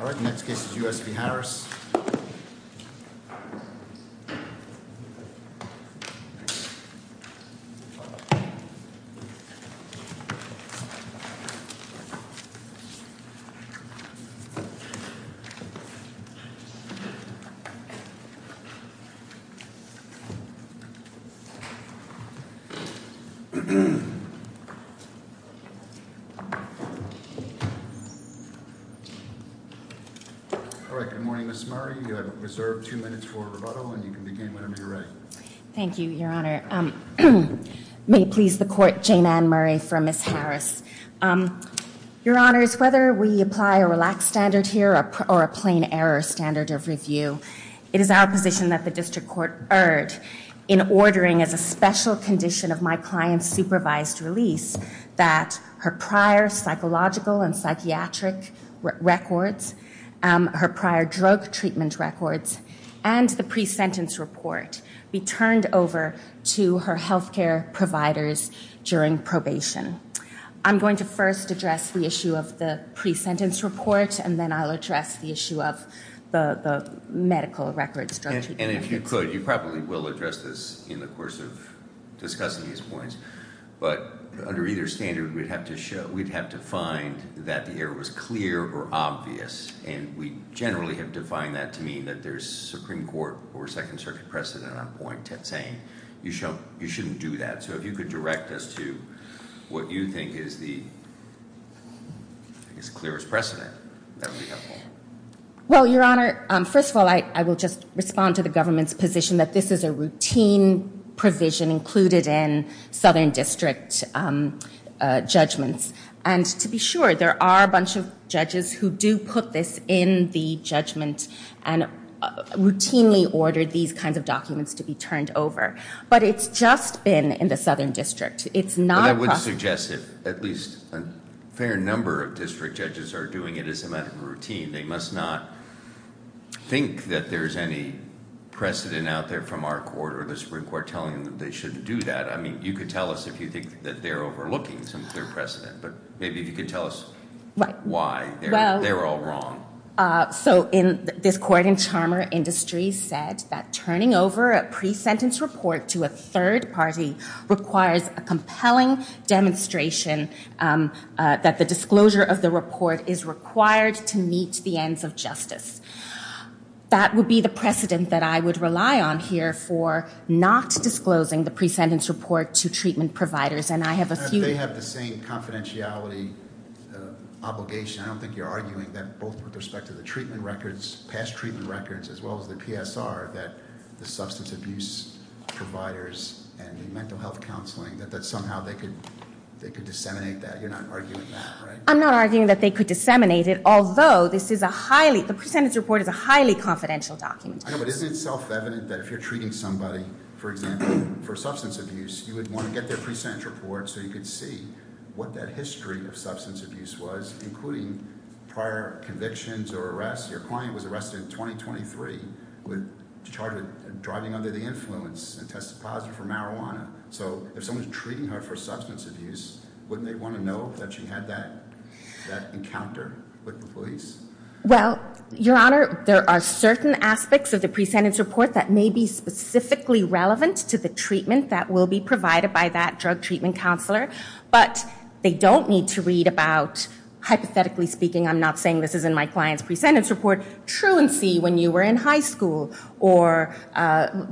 All right, next case is U.S. v. Harris. All right, good morning, Ms. Murray. You have reserved two minutes for rebuttal, and you can begin whenever you're ready. Thank you, Your Honor. May it please the Court, Jane Ann Murray for Ms. Harris. Your Honors, whether we apply a relaxed standard here or a plain error standard of review, it is our position that the District Court erred in ordering as a special condition of my client's supervised release that her prior psychological and psychiatric records, her prior drug treatment records, and the pre-sentence report be turned over to her health care providers during probation. I'm going to first address the issue of the pre-sentence report, and then I'll address the issue of the medical records. And if you could, you probably will address this in the course of discussing these points, but under either standard, we'd have to find that the error was clear or obvious, and we generally have defined that to mean that there's Supreme Court or Second Circuit precedent on point saying you shouldn't do that. So if you could direct us to what you think is the clearest precedent. Well, Your Honor, first of all, I will just respond to the government's position that this is a routine provision included in Southern District judgments. And to be sure, there are a bunch of judges who do put this in the judgment and routinely order these kinds of documents to be turned over. But it's just been in the Southern District. It's not a precedent. But I would suggest that at least a fair number of district judges are doing it as a medical routine. They must not think that there's any precedent out there from our court or the Supreme Court telling them that they shouldn't do that. I mean, you could tell us if you think that they're overlooking some clear precedent, but maybe if you could tell us why they're all wrong. So this court in Charmer Industries said that turning over a pre-sentence report to a third party requires a compelling demonstration that the disclosure of the report is required to meet the ends of justice. That would be the precedent that I would rely on here for not disclosing the pre-sentence report to treatment providers. And I have a few ñ They have the same confidentiality obligation. I don't think you're arguing that both with respect to the treatment records, past treatment records, as well as the PSR, that the substance abuse providers and the mental health counseling, that somehow they could disseminate that. You're not arguing that, right? I'm not arguing that they could disseminate it, although the pre-sentence report is a highly confidential document. I know, but isn't it self-evident that if you're treating somebody, for example, for substance abuse, you would want to get their pre-sentence report so you could see what that history of substance abuse was, including prior convictions or arrests. Your client was arrested in 2023, charged with driving under the influence and tested positive for marijuana. So if someone's treating her for substance abuse, wouldn't they want to know that she had that encounter with the police? Well, Your Honor, there are certain aspects of the pre-sentence report that may be specifically relevant to the treatment that will be provided by that drug treatment counselor, but they don't need to read about, hypothetically speaking, I'm not saying this is in my client's pre-sentence report, truancy when you were in high school or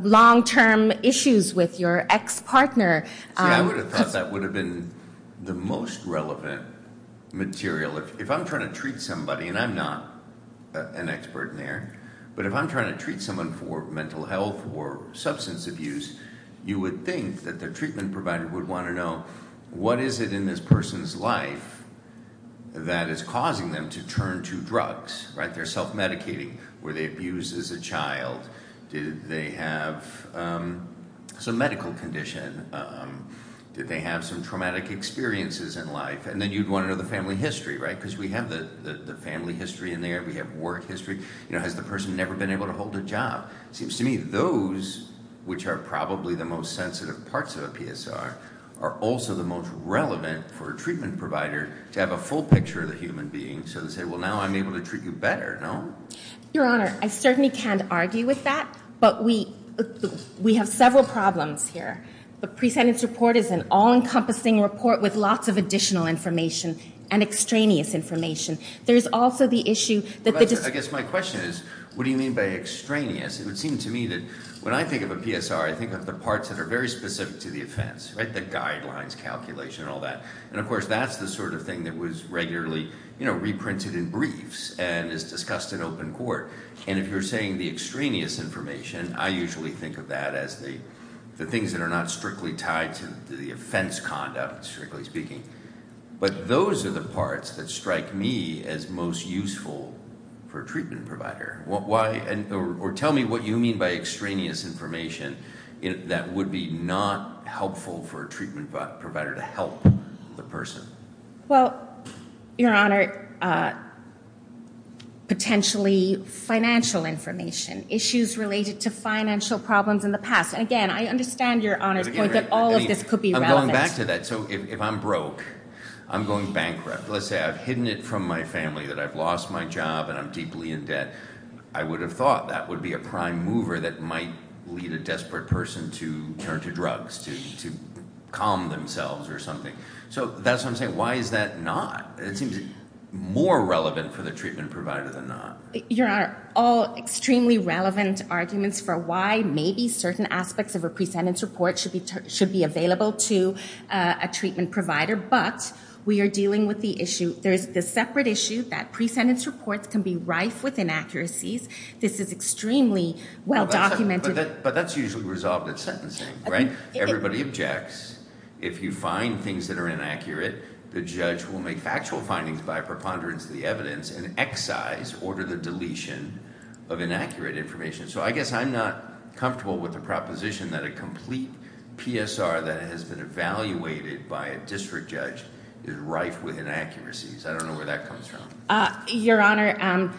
long-term issues with your ex-partner. See, I would have thought that would have been the most relevant material. If I'm trying to treat somebody, and I'm not an expert in there, but if I'm trying to treat someone for mental health or substance abuse, you would think that the treatment provider would want to know what is it in this person's life that is causing them to turn to drugs, right? They're self-medicating. Were they abused as a child? Did they have some medical condition? Did they have some traumatic experiences in life? And then you'd want to know the family history, right, because we have the family history in there. We have work history. Has the person never been able to hold a job? It seems to me those, which are probably the most sensitive parts of a PSR, are also the most relevant for a treatment provider to have a full picture of the human being, so to say, well, now I'm able to treat you better, no? Your Honor, I certainly can't argue with that, but we have several problems here. The pre-sentence report is an all-encompassing report with lots of additional information and extraneous information. I guess my question is, what do you mean by extraneous? It would seem to me that when I think of a PSR, I think of the parts that are very specific to the offense, right, the guidelines calculation and all that. And, of course, that's the sort of thing that was regularly reprinted in briefs and is discussed in open court. And if you're saying the extraneous information, I usually think of that as the things that are not strictly tied to the offense conduct, strictly speaking. But those are the parts that strike me as most useful for a treatment provider. Or tell me what you mean by extraneous information that would be not helpful for a treatment provider to help the person. Well, Your Honor, potentially financial information, issues related to financial problems in the past. And, again, I understand Your Honor's point that all of this could be relevant. But back to that. So if I'm broke, I'm going bankrupt. Let's say I've hidden it from my family that I've lost my job and I'm deeply in debt. I would have thought that would be a prime mover that might lead a desperate person to turn to drugs, to calm themselves or something. So that's what I'm saying. Why is that not? It seems more relevant for the treatment provider than not. Your Honor, all extremely relevant arguments for why maybe certain aspects of a pre-sentence report should be available to a treatment provider. But we are dealing with the issue. There is the separate issue that pre-sentence reports can be rife with inaccuracies. This is extremely well documented. But that's usually resolved at sentencing, right? Everybody objects. If you find things that are inaccurate, the judge will make factual findings by preponderance of the evidence and excise or to the deletion of inaccurate information. So I guess I'm not comfortable with the proposition that a complete PSR that has been evaluated by a district judge is rife with inaccuracies. I don't know where that comes from. Your Honor,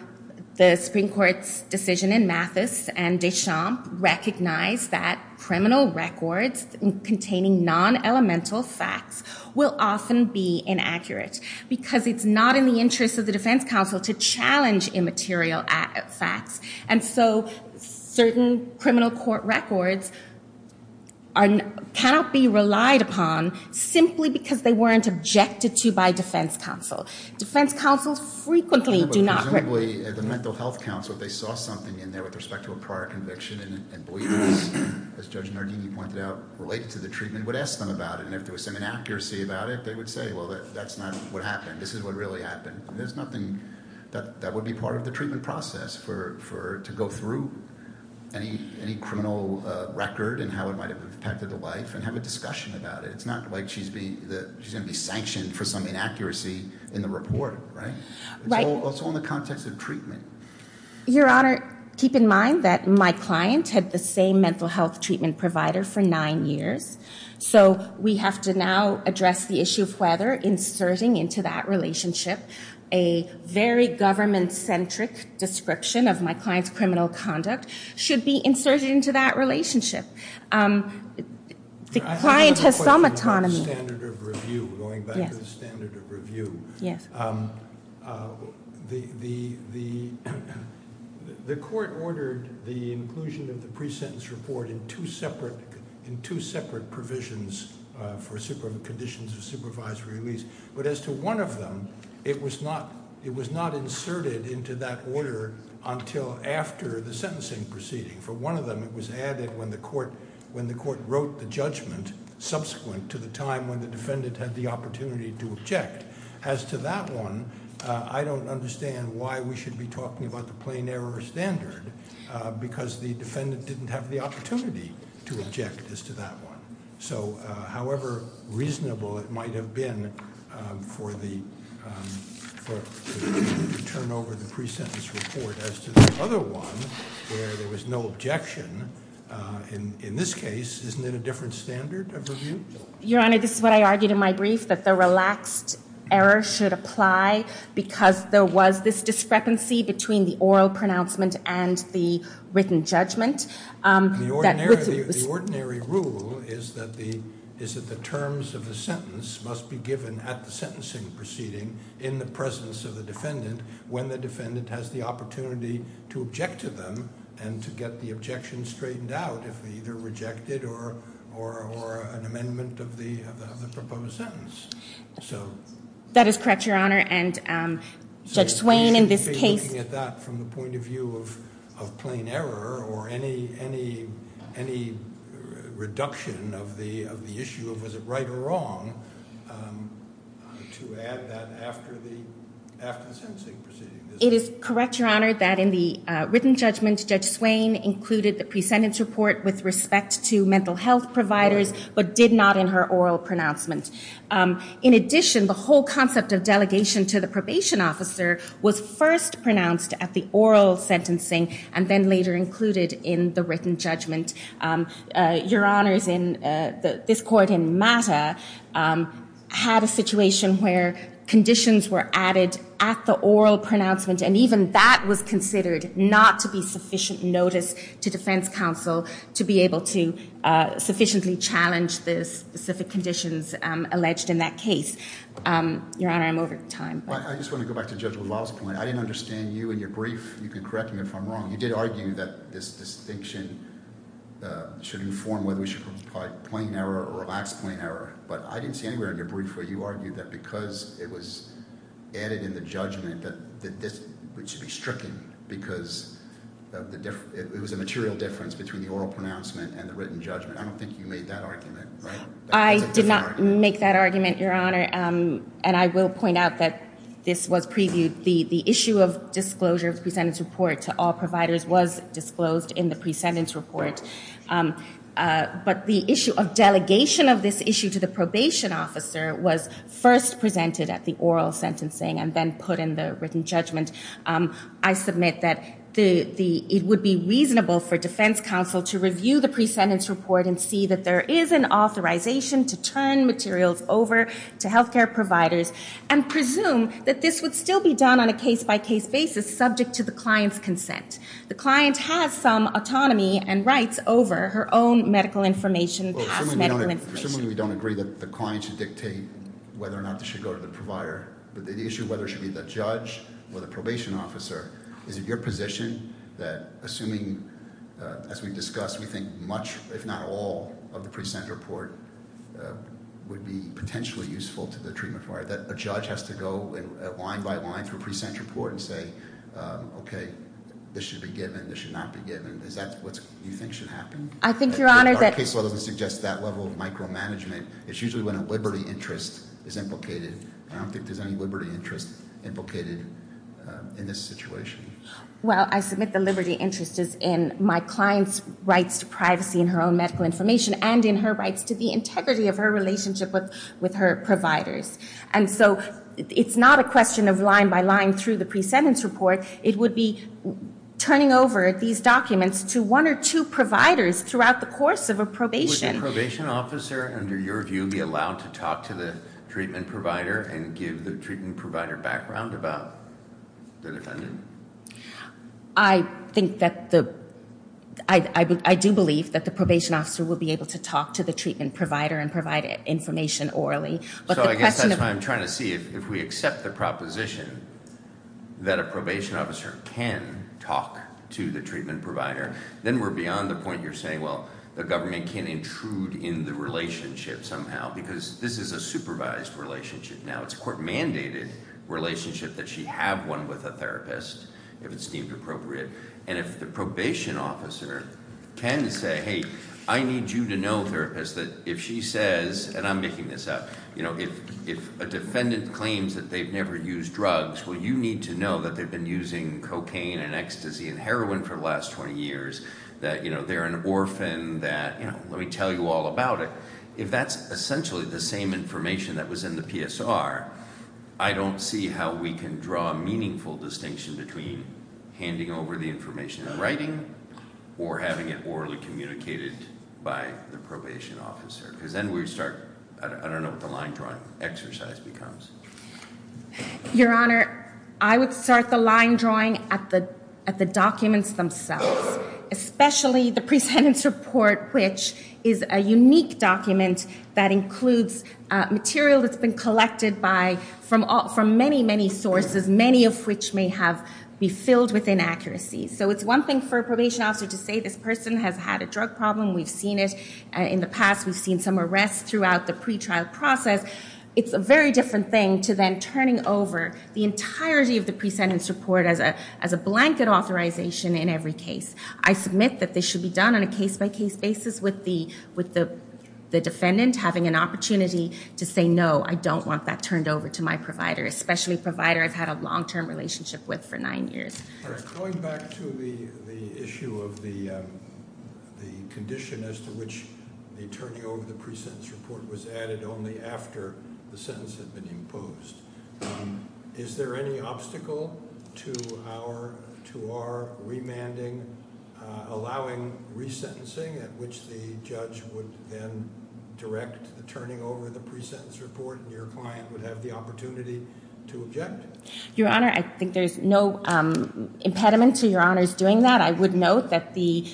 the Supreme Court's decision in Mathis and Deschamps recognized that criminal records containing non-elemental facts will often be inaccurate. Because it's not in the interest of the defense counsel to challenge immaterial facts. And so certain criminal court records cannot be relied upon simply because they weren't objected to by defense counsel. Defense counsels frequently do not – Presumably the mental health counsel, if they saw something in there with respect to a prior conviction and believe this, as Judge Nardini pointed out, related to the treatment, would ask them about it. And if there was some inaccuracy about it, they would say, well, that's not what happened. This is what really happened. There's nothing – that would be part of the treatment process for – to go through any criminal record and how it might have impacted the life and have a discussion about it. It's not like she's being – she's going to be sanctioned for some inaccuracy in the report, right? It's all in the context of treatment. Your Honor, keep in mind that my client had the same mental health treatment provider for nine years. So we have to now address the issue of whether inserting into that relationship a very government-centric description of my client's criminal conduct should be inserted into that relationship. The client has some autonomy. I have a question about the standard of review, going back to the standard of review. Yes. The court ordered the inclusion of the pre-sentence report in two separate provisions for conditions of supervisory release. But as to one of them, it was not inserted into that order until after the sentencing proceeding. For one of them, it was added when the court wrote the judgment subsequent to the time when the defendant had the opportunity to object. As to that one, I don't understand why we should be talking about the plain error standard because the defendant didn't have the opportunity to object as to that one. So however reasonable it might have been to turn over the pre-sentence report as to the other one where there was no objection, in this case, isn't it a different standard of review? Your Honor, this is what I argued in my brief, that the relaxed error should apply because there was this discrepancy between the oral pronouncement and the written judgment. The ordinary rule is that the terms of the sentence must be given at the sentencing proceeding in the presence of the defendant when the defendant has the opportunity to object to them and to get the objection straightened out if either rejected or an amendment of the proposed sentence. That is correct, Your Honor. So you're looking at that from the point of view of plain error or any reduction of the issue of was it right or wrong to add that after the sentencing proceeding? It is correct, Your Honor, that in the written judgment, Judge Swain included the pre-sentence report with respect to mental health providers but did not in her oral pronouncement. In addition, the whole concept of delegation to the probation officer was first pronounced at the oral sentencing and then later included in the written judgment. Your Honor, this court in MATA had a situation where conditions were added at the oral pronouncement and even that was considered not to be sufficient notice to defense counsel to be able to sufficiently challenge the specific conditions alleged in that case. Your Honor, I'm over time. I just want to go back to Judge LaValle's point. I didn't understand you in your brief. You can correct me if I'm wrong. You did argue that this distinction should inform whether we should apply plain error or relaxed plain error. But I didn't see anywhere in your brief where you argued that because it was added in the judgment that this should be stricken because it was a material difference between the oral pronouncement and the written judgment. I don't think you made that argument. I did not make that argument, Your Honor. And I will point out that this was previewed. The issue of disclosure of the pre-sentence report to all providers was disclosed in the pre-sentence report. But the issue of delegation of this issue to the probation officer was first presented at the oral sentencing and then put in the written judgment. And I submit that it would be reasonable for defense counsel to review the pre-sentence report and see that there is an authorization to turn materials over to health care providers and presume that this would still be done on a case-by-case basis subject to the client's consent. The client has some autonomy and rights over her own medical information, past medical information. I assume we don't agree that the client should dictate whether or not this should go to the provider. But the issue of whether it should be the judge or the probation officer, is it your position that assuming, as we discussed, we think much, if not all, of the pre-sentence report would be potentially useful to the treatment provider, that a judge has to go line by line through a pre-sentence report and say, okay, this should be given, this should not be given. Is that what you think should happen? I think, Your Honor, that- It's usually when a liberty interest is implicated. I don't think there's any liberty interest implicated in this situation. Well, I submit the liberty interest is in my client's rights to privacy in her own medical information and in her rights to the integrity of her relationship with her providers. And so it's not a question of line by line through the pre-sentence report. It would be turning over these documents to one or two providers throughout the course of a probation. Would the probation officer, under your view, be allowed to talk to the treatment provider and give the treatment provider background about the defendant? I think that the- I do believe that the probation officer would be able to talk to the treatment provider and provide information orally. So I guess that's why I'm trying to see if we accept the proposition that a probation officer can talk to the treatment provider, then we're beyond the point you're saying, well, the government can intrude in the relationship somehow. Because this is a supervised relationship now. It's a court-mandated relationship that she have one with a therapist, if it's deemed appropriate. And if the probation officer can say, hey, I need you to know, therapist, that if she says, and I'm making this up, if a defendant claims that they've never used drugs, well, you need to know that they've been using cocaine and ecstasy and heroin for the last 20 years, that they're an orphan, that let me tell you all about it. If that's essentially the same information that was in the PSR, I don't see how we can draw a meaningful distinction between handing over the information in writing or having it orally communicated by the probation officer. Because then we start, I don't know what the line drawing exercise becomes. Your Honor, I would start the line drawing at the documents themselves, especially the presentence report, which is a unique document that includes material that's been collected from many, many sources, many of which may have been filled with inaccuracies. So it's one thing for a probation officer to say this person has had a drug problem, we've seen it in the past, we've seen some arrests throughout the pretrial process. It's a very different thing to then turning over the entirety of the presentence report as a blanket authorization in every case. I submit that this should be done on a case-by-case basis with the defendant having an opportunity to say no, I don't want that turned over to my provider, especially a provider I've had a long-term relationship with for nine years. Going back to the issue of the condition as to which the turning over of the presentence report was added only after the sentence had been imposed, is there any obstacle to our remanding allowing resentencing at which the judge would then direct the turning over of the presentence report and your client would have the opportunity to object? Your Honor, I think there's no impediment to Your Honor's doing that. I would note that the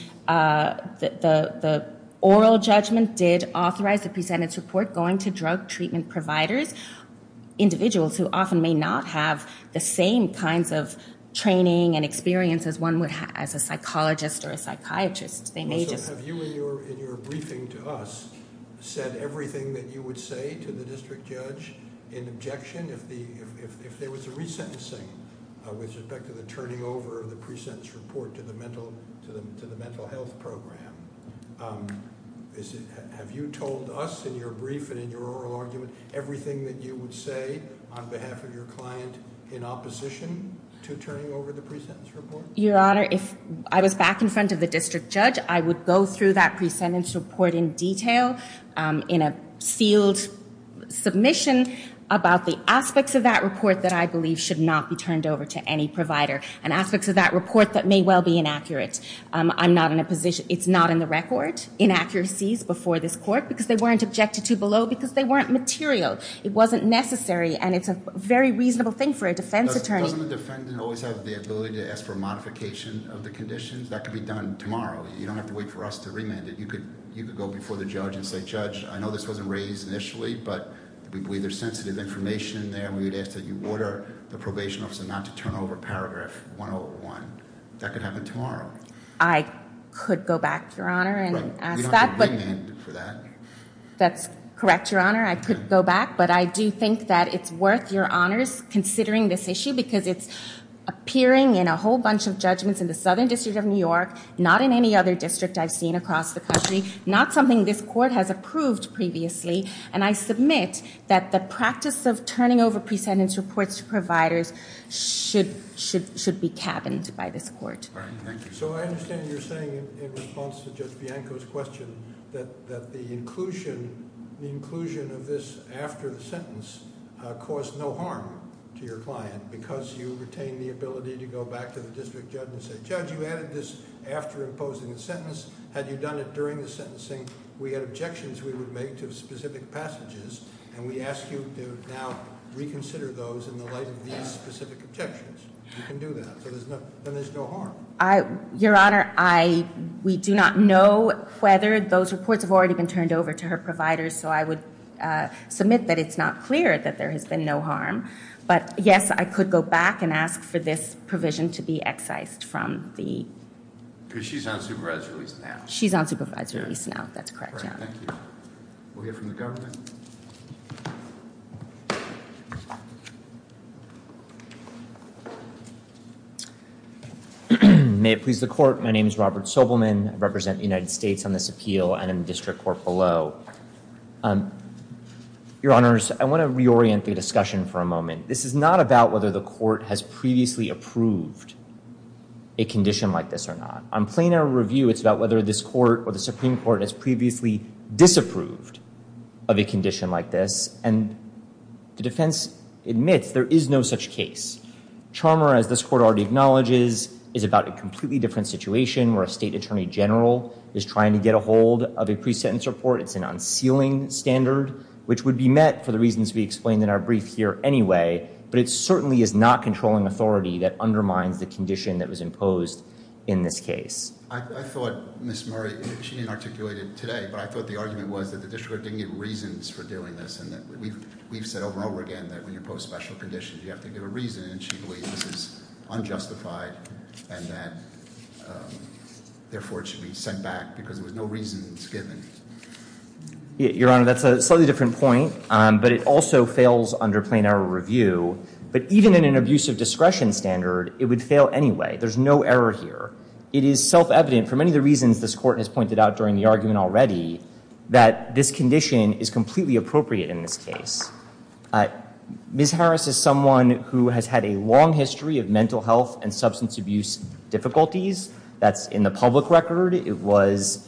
oral judgment did authorize the presentence report going to drug treatment providers, individuals who often may not have the same kinds of training and experience as one would have as a psychologist or a psychiatrist. Have you in your briefing to us said everything that you would say to the district judge in objection if there was a resentencing with respect to the turning over of the presentence report to the mental health program? Have you told us in your brief and in your oral argument everything that you would say on behalf of your client in opposition to turning over the presentence report? Your Honor, if I was back in front of the district judge, I would go through that presentence report in detail in a sealed submission about the aspects of that report that I believe should not be turned over to any provider and aspects of that report that may well be inaccurate. I'm not in a position, it's not in the record, inaccuracies before this court because they weren't objected to below because they weren't material. It wasn't necessary and it's a very reasonable thing for a defense attorney. Doesn't the defendant always have the ability to ask for a modification of the conditions? That could be done tomorrow. You don't have to wait for us to remand it. You could go before the judge and say, Judge, I know this wasn't raised initially, but we believe there's sensitive information there. We would ask that you order the probation officer not to turn over paragraph 101. That could happen tomorrow. I could go back, Your Honor, and ask that. We don't have to remand for that. That's correct, Your Honor. I could go back, but I do think that it's worth your honors considering this issue because it's appearing in a whole bunch of judgments in the Southern District of New York, not in any other district I've seen across the country, not something this court has approved previously, and I submit that the practice of turning over presentence reports to providers should be cabined by this court. All right. Thank you. So I understand you're saying in response to Judge Bianco's question that the inclusion of this after the sentence caused no harm to your client because you retained the ability to go back to the district judge and say, Judge, you added this after imposing the sentence. Had you done it during the sentencing, we had objections we would make to specific passages, and we ask you to now reconsider those in the light of these specific objections. You can do that, so then there's no harm. Your Honor, we do not know whether those reports have already been turned over to her providers, so I would submit that it's not clear that there has been no harm. But, yes, I could go back and ask for this provision to be excised from the... Because she's on supervised release now. She's on supervised release now. That's correct, Your Honor. All right. Thank you. We'll hear from the government. May it please the court. My name is Robert Sobelman. I represent the United States on this appeal and in the district court below. Your Honors, I want to reorient the discussion for a moment. This is not about whether the court has previously approved a condition like this or not. On plain error review, it's about whether this court or the Supreme Court has previously disapproved of a condition like this, and the defense admits there is no such case. Charmer, as this court already acknowledges, is about a completely different situation where a state attorney general is trying to get a hold of a pre-sentence report. It's an unsealing standard, which would be met for the reasons we explained in our brief here anyway, but it certainly is not controlling authority that undermines the condition that was imposed in this case. I thought, Ms. Murray, she didn't articulate it today, but I thought the argument was that the district court didn't get reasons for doing this and that we've said over and over again that when you pose special conditions, you have to give a reason, and she believes this is unjustified and that, therefore, it should be sent back because there was no reasons given. Your Honor, that's a slightly different point, but it also fails under plain error review. But even in an abusive discretion standard, it would fail anyway. There's no error here. It is self-evident for many of the reasons this court has pointed out during the argument already that this condition is completely appropriate in this case. Ms. Harris is someone who has had a long history of mental health and substance abuse difficulties. That's in the public record. It was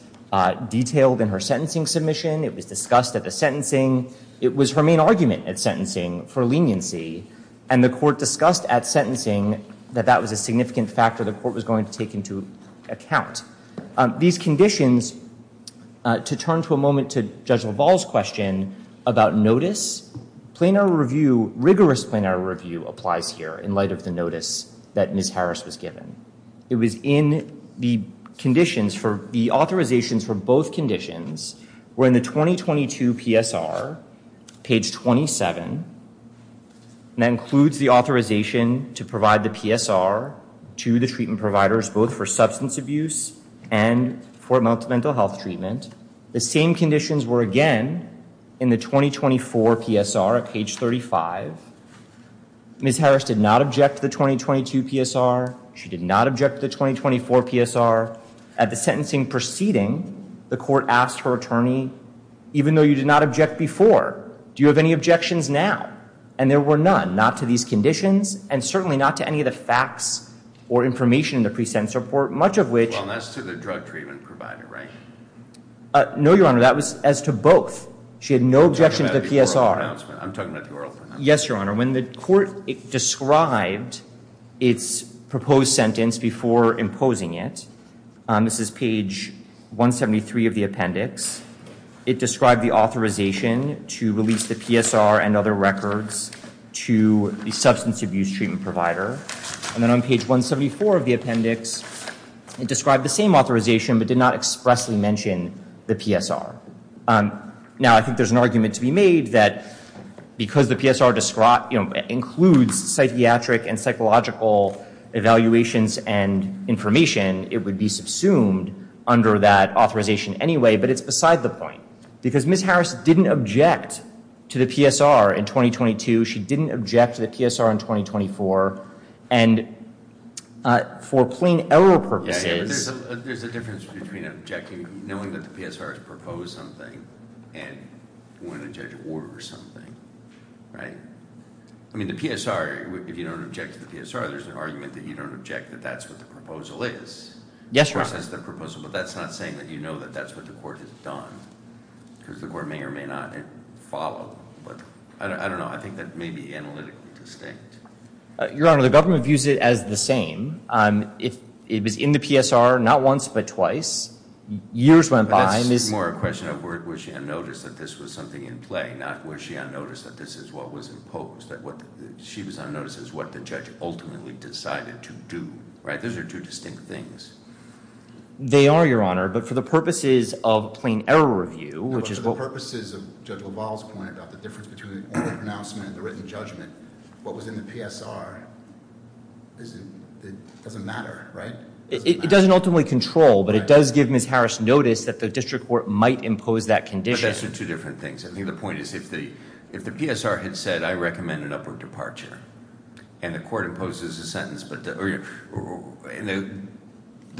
detailed in her sentencing submission. It was discussed at the sentencing. It was her main argument at sentencing for leniency, and the court discussed at sentencing that that was a significant factor the court was going to take into account. These conditions, to turn to a moment to Judge LaValle's question about notice, plain error review, rigorous plain error review applies here in light of the notice that Ms. Harris was given. It was in the conditions for the authorizations for both conditions were in the 2022 PSR, page 27, and that includes the authorization to provide the PSR to the treatment providers both for substance abuse and for mental health treatment. The same conditions were again in the 2024 PSR, page 35. Ms. Harris did not object to the 2022 PSR. She did not object to the 2024 PSR. At the sentencing proceeding, the court asked her attorney, even though you did not object before, do you have any objections now? And there were none. Not to these conditions, and certainly not to any of the facts or information in the pre-sentence report, much of which— Well, that's to the drug treatment provider, right? No, Your Honor. That was as to both. She had no objection to the PSR. I'm talking about the oral pronouncement. Yes, Your Honor. When the court described its proposed sentence before imposing it, this is page 173 of the appendix, it described the authorization to release the PSR and other records to the substance abuse treatment provider. And then on page 174 of the appendix, it described the same authorization but did not expressly mention the PSR. Now, I think there's an argument to be made that because the PSR includes psychiatric and psychological evaluations and information, it would be subsumed under that authorization anyway, but it's beside the point because Ms. Harris didn't object to the PSR in 2022. She didn't object to the PSR in 2024. And for plain error purposes— There's a difference between objecting, knowing that the PSR has proposed something, and wanting to judge a war or something, right? I mean, the PSR, if you don't object to the PSR, there's an argument that you don't object that that's what the proposal is. Yes, Your Honor. That's the proposal, but that's not saying that you know that that's what the court has done, because the court may or may not follow. But I don't know. I think that may be analytically distinct. Your Honor, the government views it as the same. It was in the PSR not once but twice. Years went by. That's more a question of was she on notice that this was something in play, not was she on notice that this is what was imposed, that she was on notice of what the judge ultimately decided to do, right? Those are two distinct things. They are, Your Honor. But for the purposes of plain error review, which is what— But for the purposes of Judge LaValle's point about the difference between oral pronouncement and the written judgment, what was in the PSR doesn't matter, right? It doesn't ultimately control, but it does give Ms. Harris notice that the district court might impose that condition. But those are two different things. I think the point is if the PSR had said I recommend an upward departure and the court imposes a sentence, the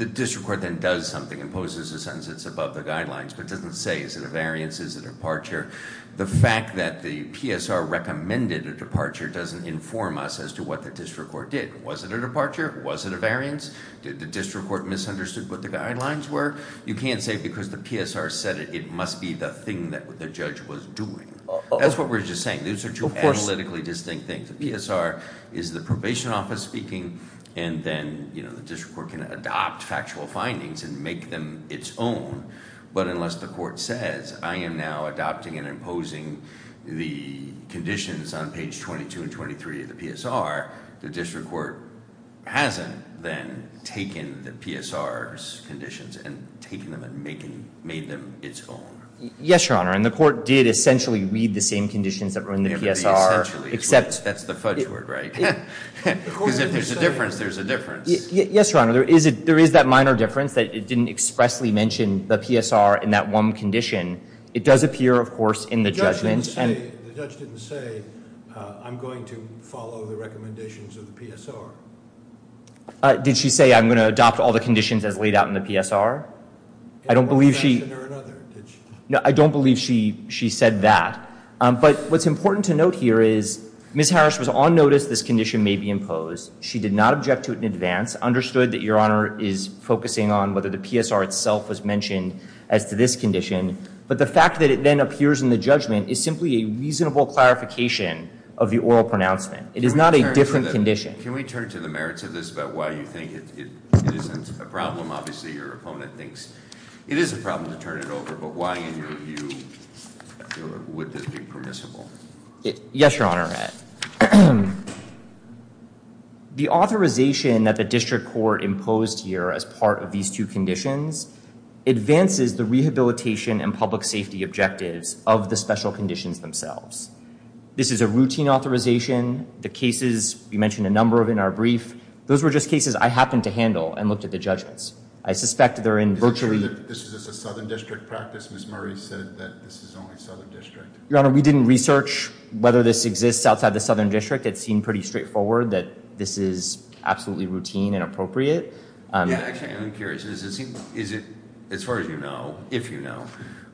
district court then does something and imposes a sentence that's above the guidelines but doesn't say is it a variance, is it a departure, the fact that the PSR recommended a departure doesn't inform us as to what the district court did. Was it a departure? Was it a variance? Did the district court misunderstood what the guidelines were? You can't say because the PSR said it, it must be the thing that the judge was doing. That's what we're just saying. Those are two analytically distinct things. The PSR is the probation office speaking, and then the district court can adopt factual findings and make them its own. But unless the court says I am now adopting and imposing the conditions on page 22 and 23 of the PSR, the district court hasn't then taken the PSR's conditions and taken them and made them its own. Yes, Your Honor, and the court did essentially read the same conditions that were in the PSR. It would be essentially. That's the fudge word, right? Because if there's a difference, there's a difference. Yes, Your Honor. There is that minor difference that it didn't expressly mention the PSR in that one condition. It does appear, of course, in the judgment. The judge didn't say I'm going to follow the recommendations of the PSR. Did she say I'm going to adopt all the conditions as laid out in the PSR? I don't believe she said that. But what's important to note here is Ms. Harris was on notice this condition may be imposed. She did not object to it in advance, understood that, Your Honor, is focusing on whether the PSR itself was mentioned as to this condition. But the fact that it then appears in the judgment is simply a reasonable clarification of the oral pronouncement. It is not a different condition. Can we turn to the merits of this about why you think it isn't a problem? Obviously, your opponent thinks it is a problem to turn it over. But why, in your view, would this be permissible? Yes, Your Honor. The authorization that the district court imposed here as part of these two conditions advances the rehabilitation and public safety objectives of the special conditions themselves. This is a routine authorization. The cases we mentioned a number of in our brief, those were just cases I happened to handle and looked at the judgments. I suspect they're in virtually- Is it true that this is a Southern District practice? Ms. Murray said that this is only Southern District. Your Honor, we didn't research whether this exists outside the Southern District. It seemed pretty straightforward that this is absolutely routine and appropriate. Yeah, actually, I'm curious. Is it, as far as you know, if you know,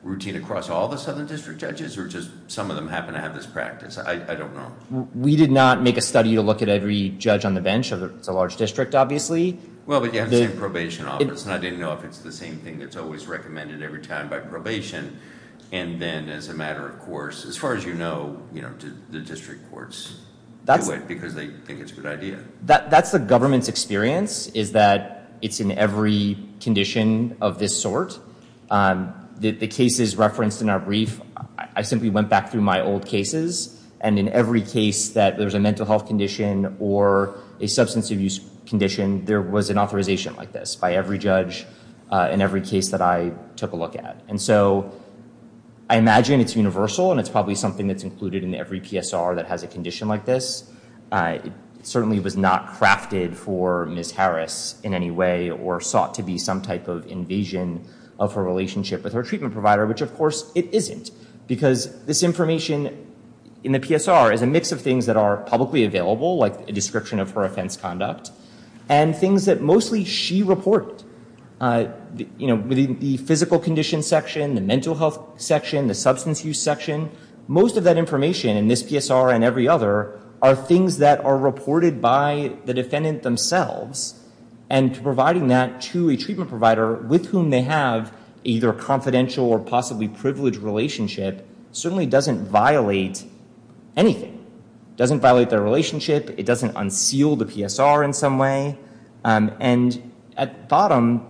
routine across all the Southern District judges? Or just some of them happen to have this practice? I don't know. We did not make a study to look at every judge on the bench. It's a large district, obviously. Well, but you have the same probation office, and I didn't know if it's the same thing that's always recommended every time by probation. And then, as a matter of course, as far as you know, the district courts do it because they think it's a good idea. That's the government's experience, is that it's in every condition of this sort. The cases referenced in our brief, I simply went back through my old cases, and in every case that there's a mental health condition or a substance abuse condition, there was an authorization like this by every judge in every case that I took a look at. And so I imagine it's universal, and it's probably something that's included in every PSR that has a condition like this. It certainly was not crafted for Ms. Harris in any way or sought to be some type of invasion of her relationship with her treatment provider, which, of course, it isn't. Because this information in the PSR is a mix of things that are publicly available, like a description of her offense conduct, and things that mostly she reported. Within the physical condition section, the mental health section, the substance use section, most of that information in this PSR and every other are things that are reported by the defendant themselves. And providing that to a treatment provider with whom they have either a confidential or possibly privileged relationship certainly doesn't violate anything. It doesn't violate their relationship. It doesn't unseal the PSR in some way. And at bottom,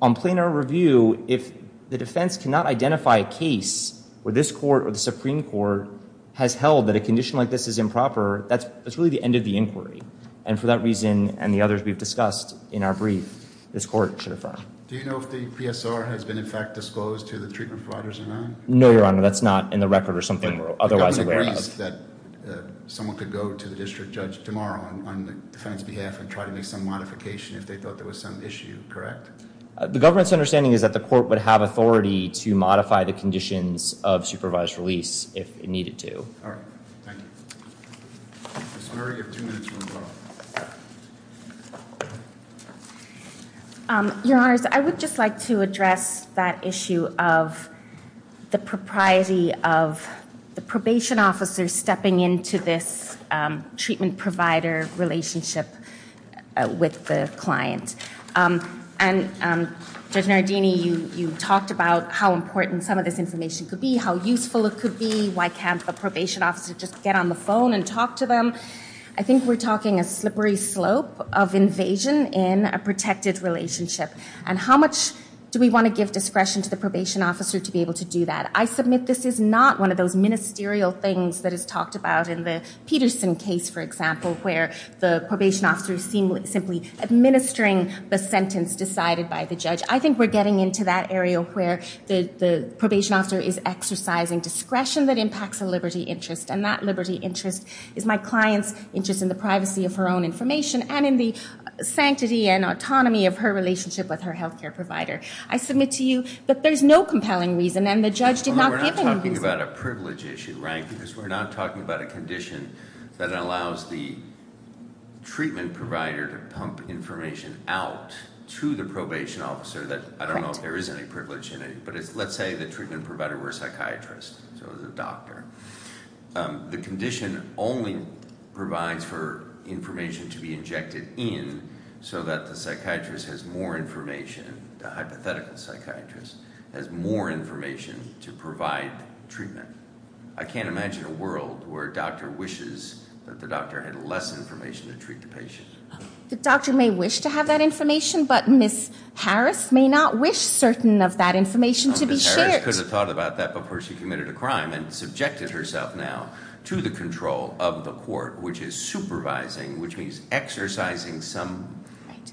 on plainer review, if the defense cannot identify a case where this court or the Supreme Court has held that a condition like this is improper, that's really the end of the inquiry. And for that reason and the others we've discussed in our brief, this court should affirm. Do you know if the PSR has been, in fact, disclosed to the treatment providers or not? No, Your Honor, that's not in the record or something we're otherwise aware of. So you don't think that someone could go to the district judge tomorrow on the defendant's behalf and try to make some modification if they thought there was some issue, correct? The government's understanding is that the court would have authority to modify the conditions of supervised release if it needed to. All right. Thank you. Ms. Murray, you have two minutes remaining. Your Honors, I would just like to address that issue of the propriety of the probation officer stepping into this treatment provider relationship with the client. And Judge Nardini, you talked about how important some of this information could be, how useful it could be, why can't a probation officer just get on the phone and talk to them? I think we're talking a slippery slope of invasion in a protected relationship. And how much do we want to give discretion to the probation officer to be able to do that? I submit this is not one of those ministerial things that is talked about in the Peterson case, for example, where the probation officer is simply administering the sentence decided by the judge. I think we're getting into that area where the probation officer is exercising discretion that impacts a liberty interest, and that liberty interest is my client's interest in the privacy of her own information and in the sanctity and autonomy of her relationship with her health care provider. I submit to you that there's no compelling reason, and the judge did not give any reason. We're not talking about a privilege issue, right? Because we're not talking about a condition that allows the treatment provider to pump information out to the probation officer that I don't know if there is any privilege in it. But let's say the treatment provider were a psychiatrist, so the doctor. The condition only provides for information to be injected in so that the psychiatrist has more information, the hypothetical psychiatrist has more information to provide treatment. I can't imagine a world where a doctor wishes that the doctor had less information to treat the patient. The doctor may wish to have that information, but Ms. Harris may not wish certain of that information to be shared. Ms. Harris could have thought about that before she committed a crime and subjected herself now to the control of the court, which is supervising, which means exercising some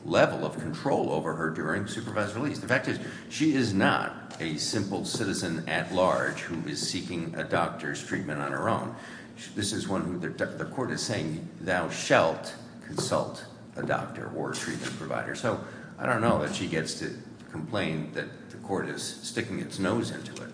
level of control over her during supervised release. The fact is she is not a simple citizen at large who is seeking a doctor's treatment on her own. This is one who the court is saying thou shalt consult a doctor or treatment provider. So I don't know that she gets to complain that the court is sticking its nose into it.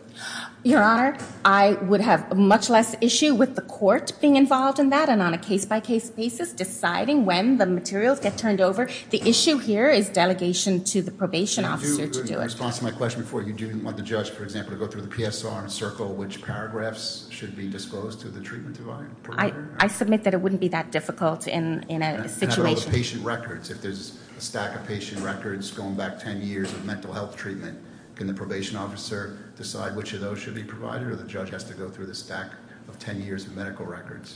Your Honor, I would have much less issue with the court being involved in that and on a case-by-case basis deciding when the materials get turned over. The issue here is delegation to the probation officer to do it. In response to my question before, you didn't want the judge, for example, to go through the PSR and circle which paragraphs should be disclosed to the treatment provider? I submit that it wouldn't be that difficult in a situation. And how about the patient records? If there's a stack of patient records going back 10 years of mental health treatment, can the probation officer decide which of those should be provided or the judge has to go through the stack of 10 years of medical records?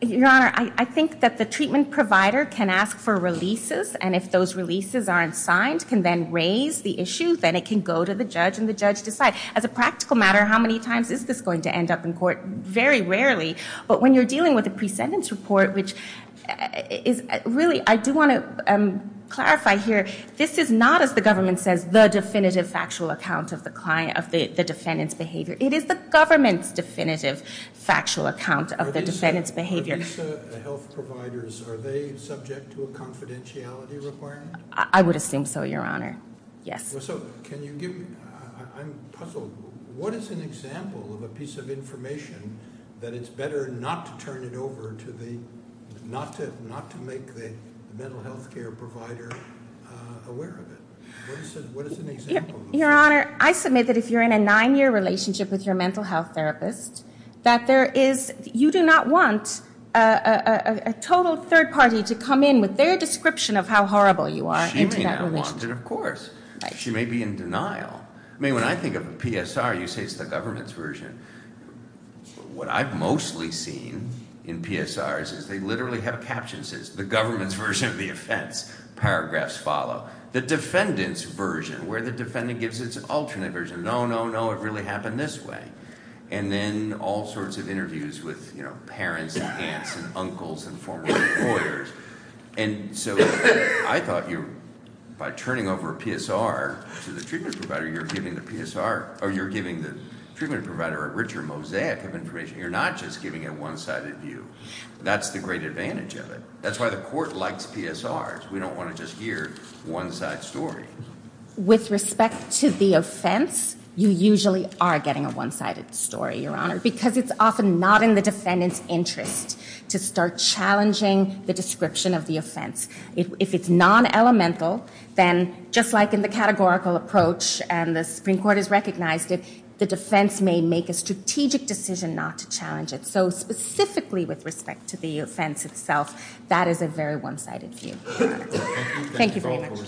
Your Honor, I think that the treatment provider can ask for releases, and if those releases aren't signed, can then raise the issue, then it can go to the judge and the judge decides. As a practical matter, how many times is this going to end up in court? Very rarely, but when you're dealing with a pre-sentence report, which really I do want to clarify here, this is not, as the government says, the definitive factual account of the defendant's behavior. It is the government's definitive factual account of the defendant's behavior. Are these health providers, are they subject to a confidentiality requirement? I would assume so, Your Honor, yes. Well, so can you give me, I'm puzzled. What is an example of a piece of information that it's better not to turn it over to the, not to make the mental health care provider aware of it? What is an example of that? Your Honor, I submit that if you're in a nine-year relationship with your mental health therapist, that there is, you do not want a total third party to come in with their description of how horrible you are in that relationship. Of course. She may be in denial. I mean, when I think of a PSR, you say it's the government's version. What I've mostly seen in PSRs is they literally have a caption that says, the government's version of the offense. Paragraphs follow. The defendant's version, where the defendant gives its alternate version, no, no, no, it really happened this way. And then all sorts of interviews with parents and aunts and uncles and former employers. And so I thought you, by turning over a PSR to the treatment provider, you're giving the PSR, or you're giving the treatment provider a richer mosaic of information. You're not just giving a one-sided view. That's the great advantage of it. That's why the court likes PSRs. We don't want to just hear one-side story. With respect to the offense, you usually are getting a one-sided story, Your Honor, because it's often not in the defendant's interest to start challenging the description of the offense. If it's non-elemental, then just like in the categorical approach, and the Supreme Court has recognized it, the defense may make a strategic decision not to challenge it. So specifically with respect to the offense itself, that is a very one-sided view, Your Honor. Thank you very much.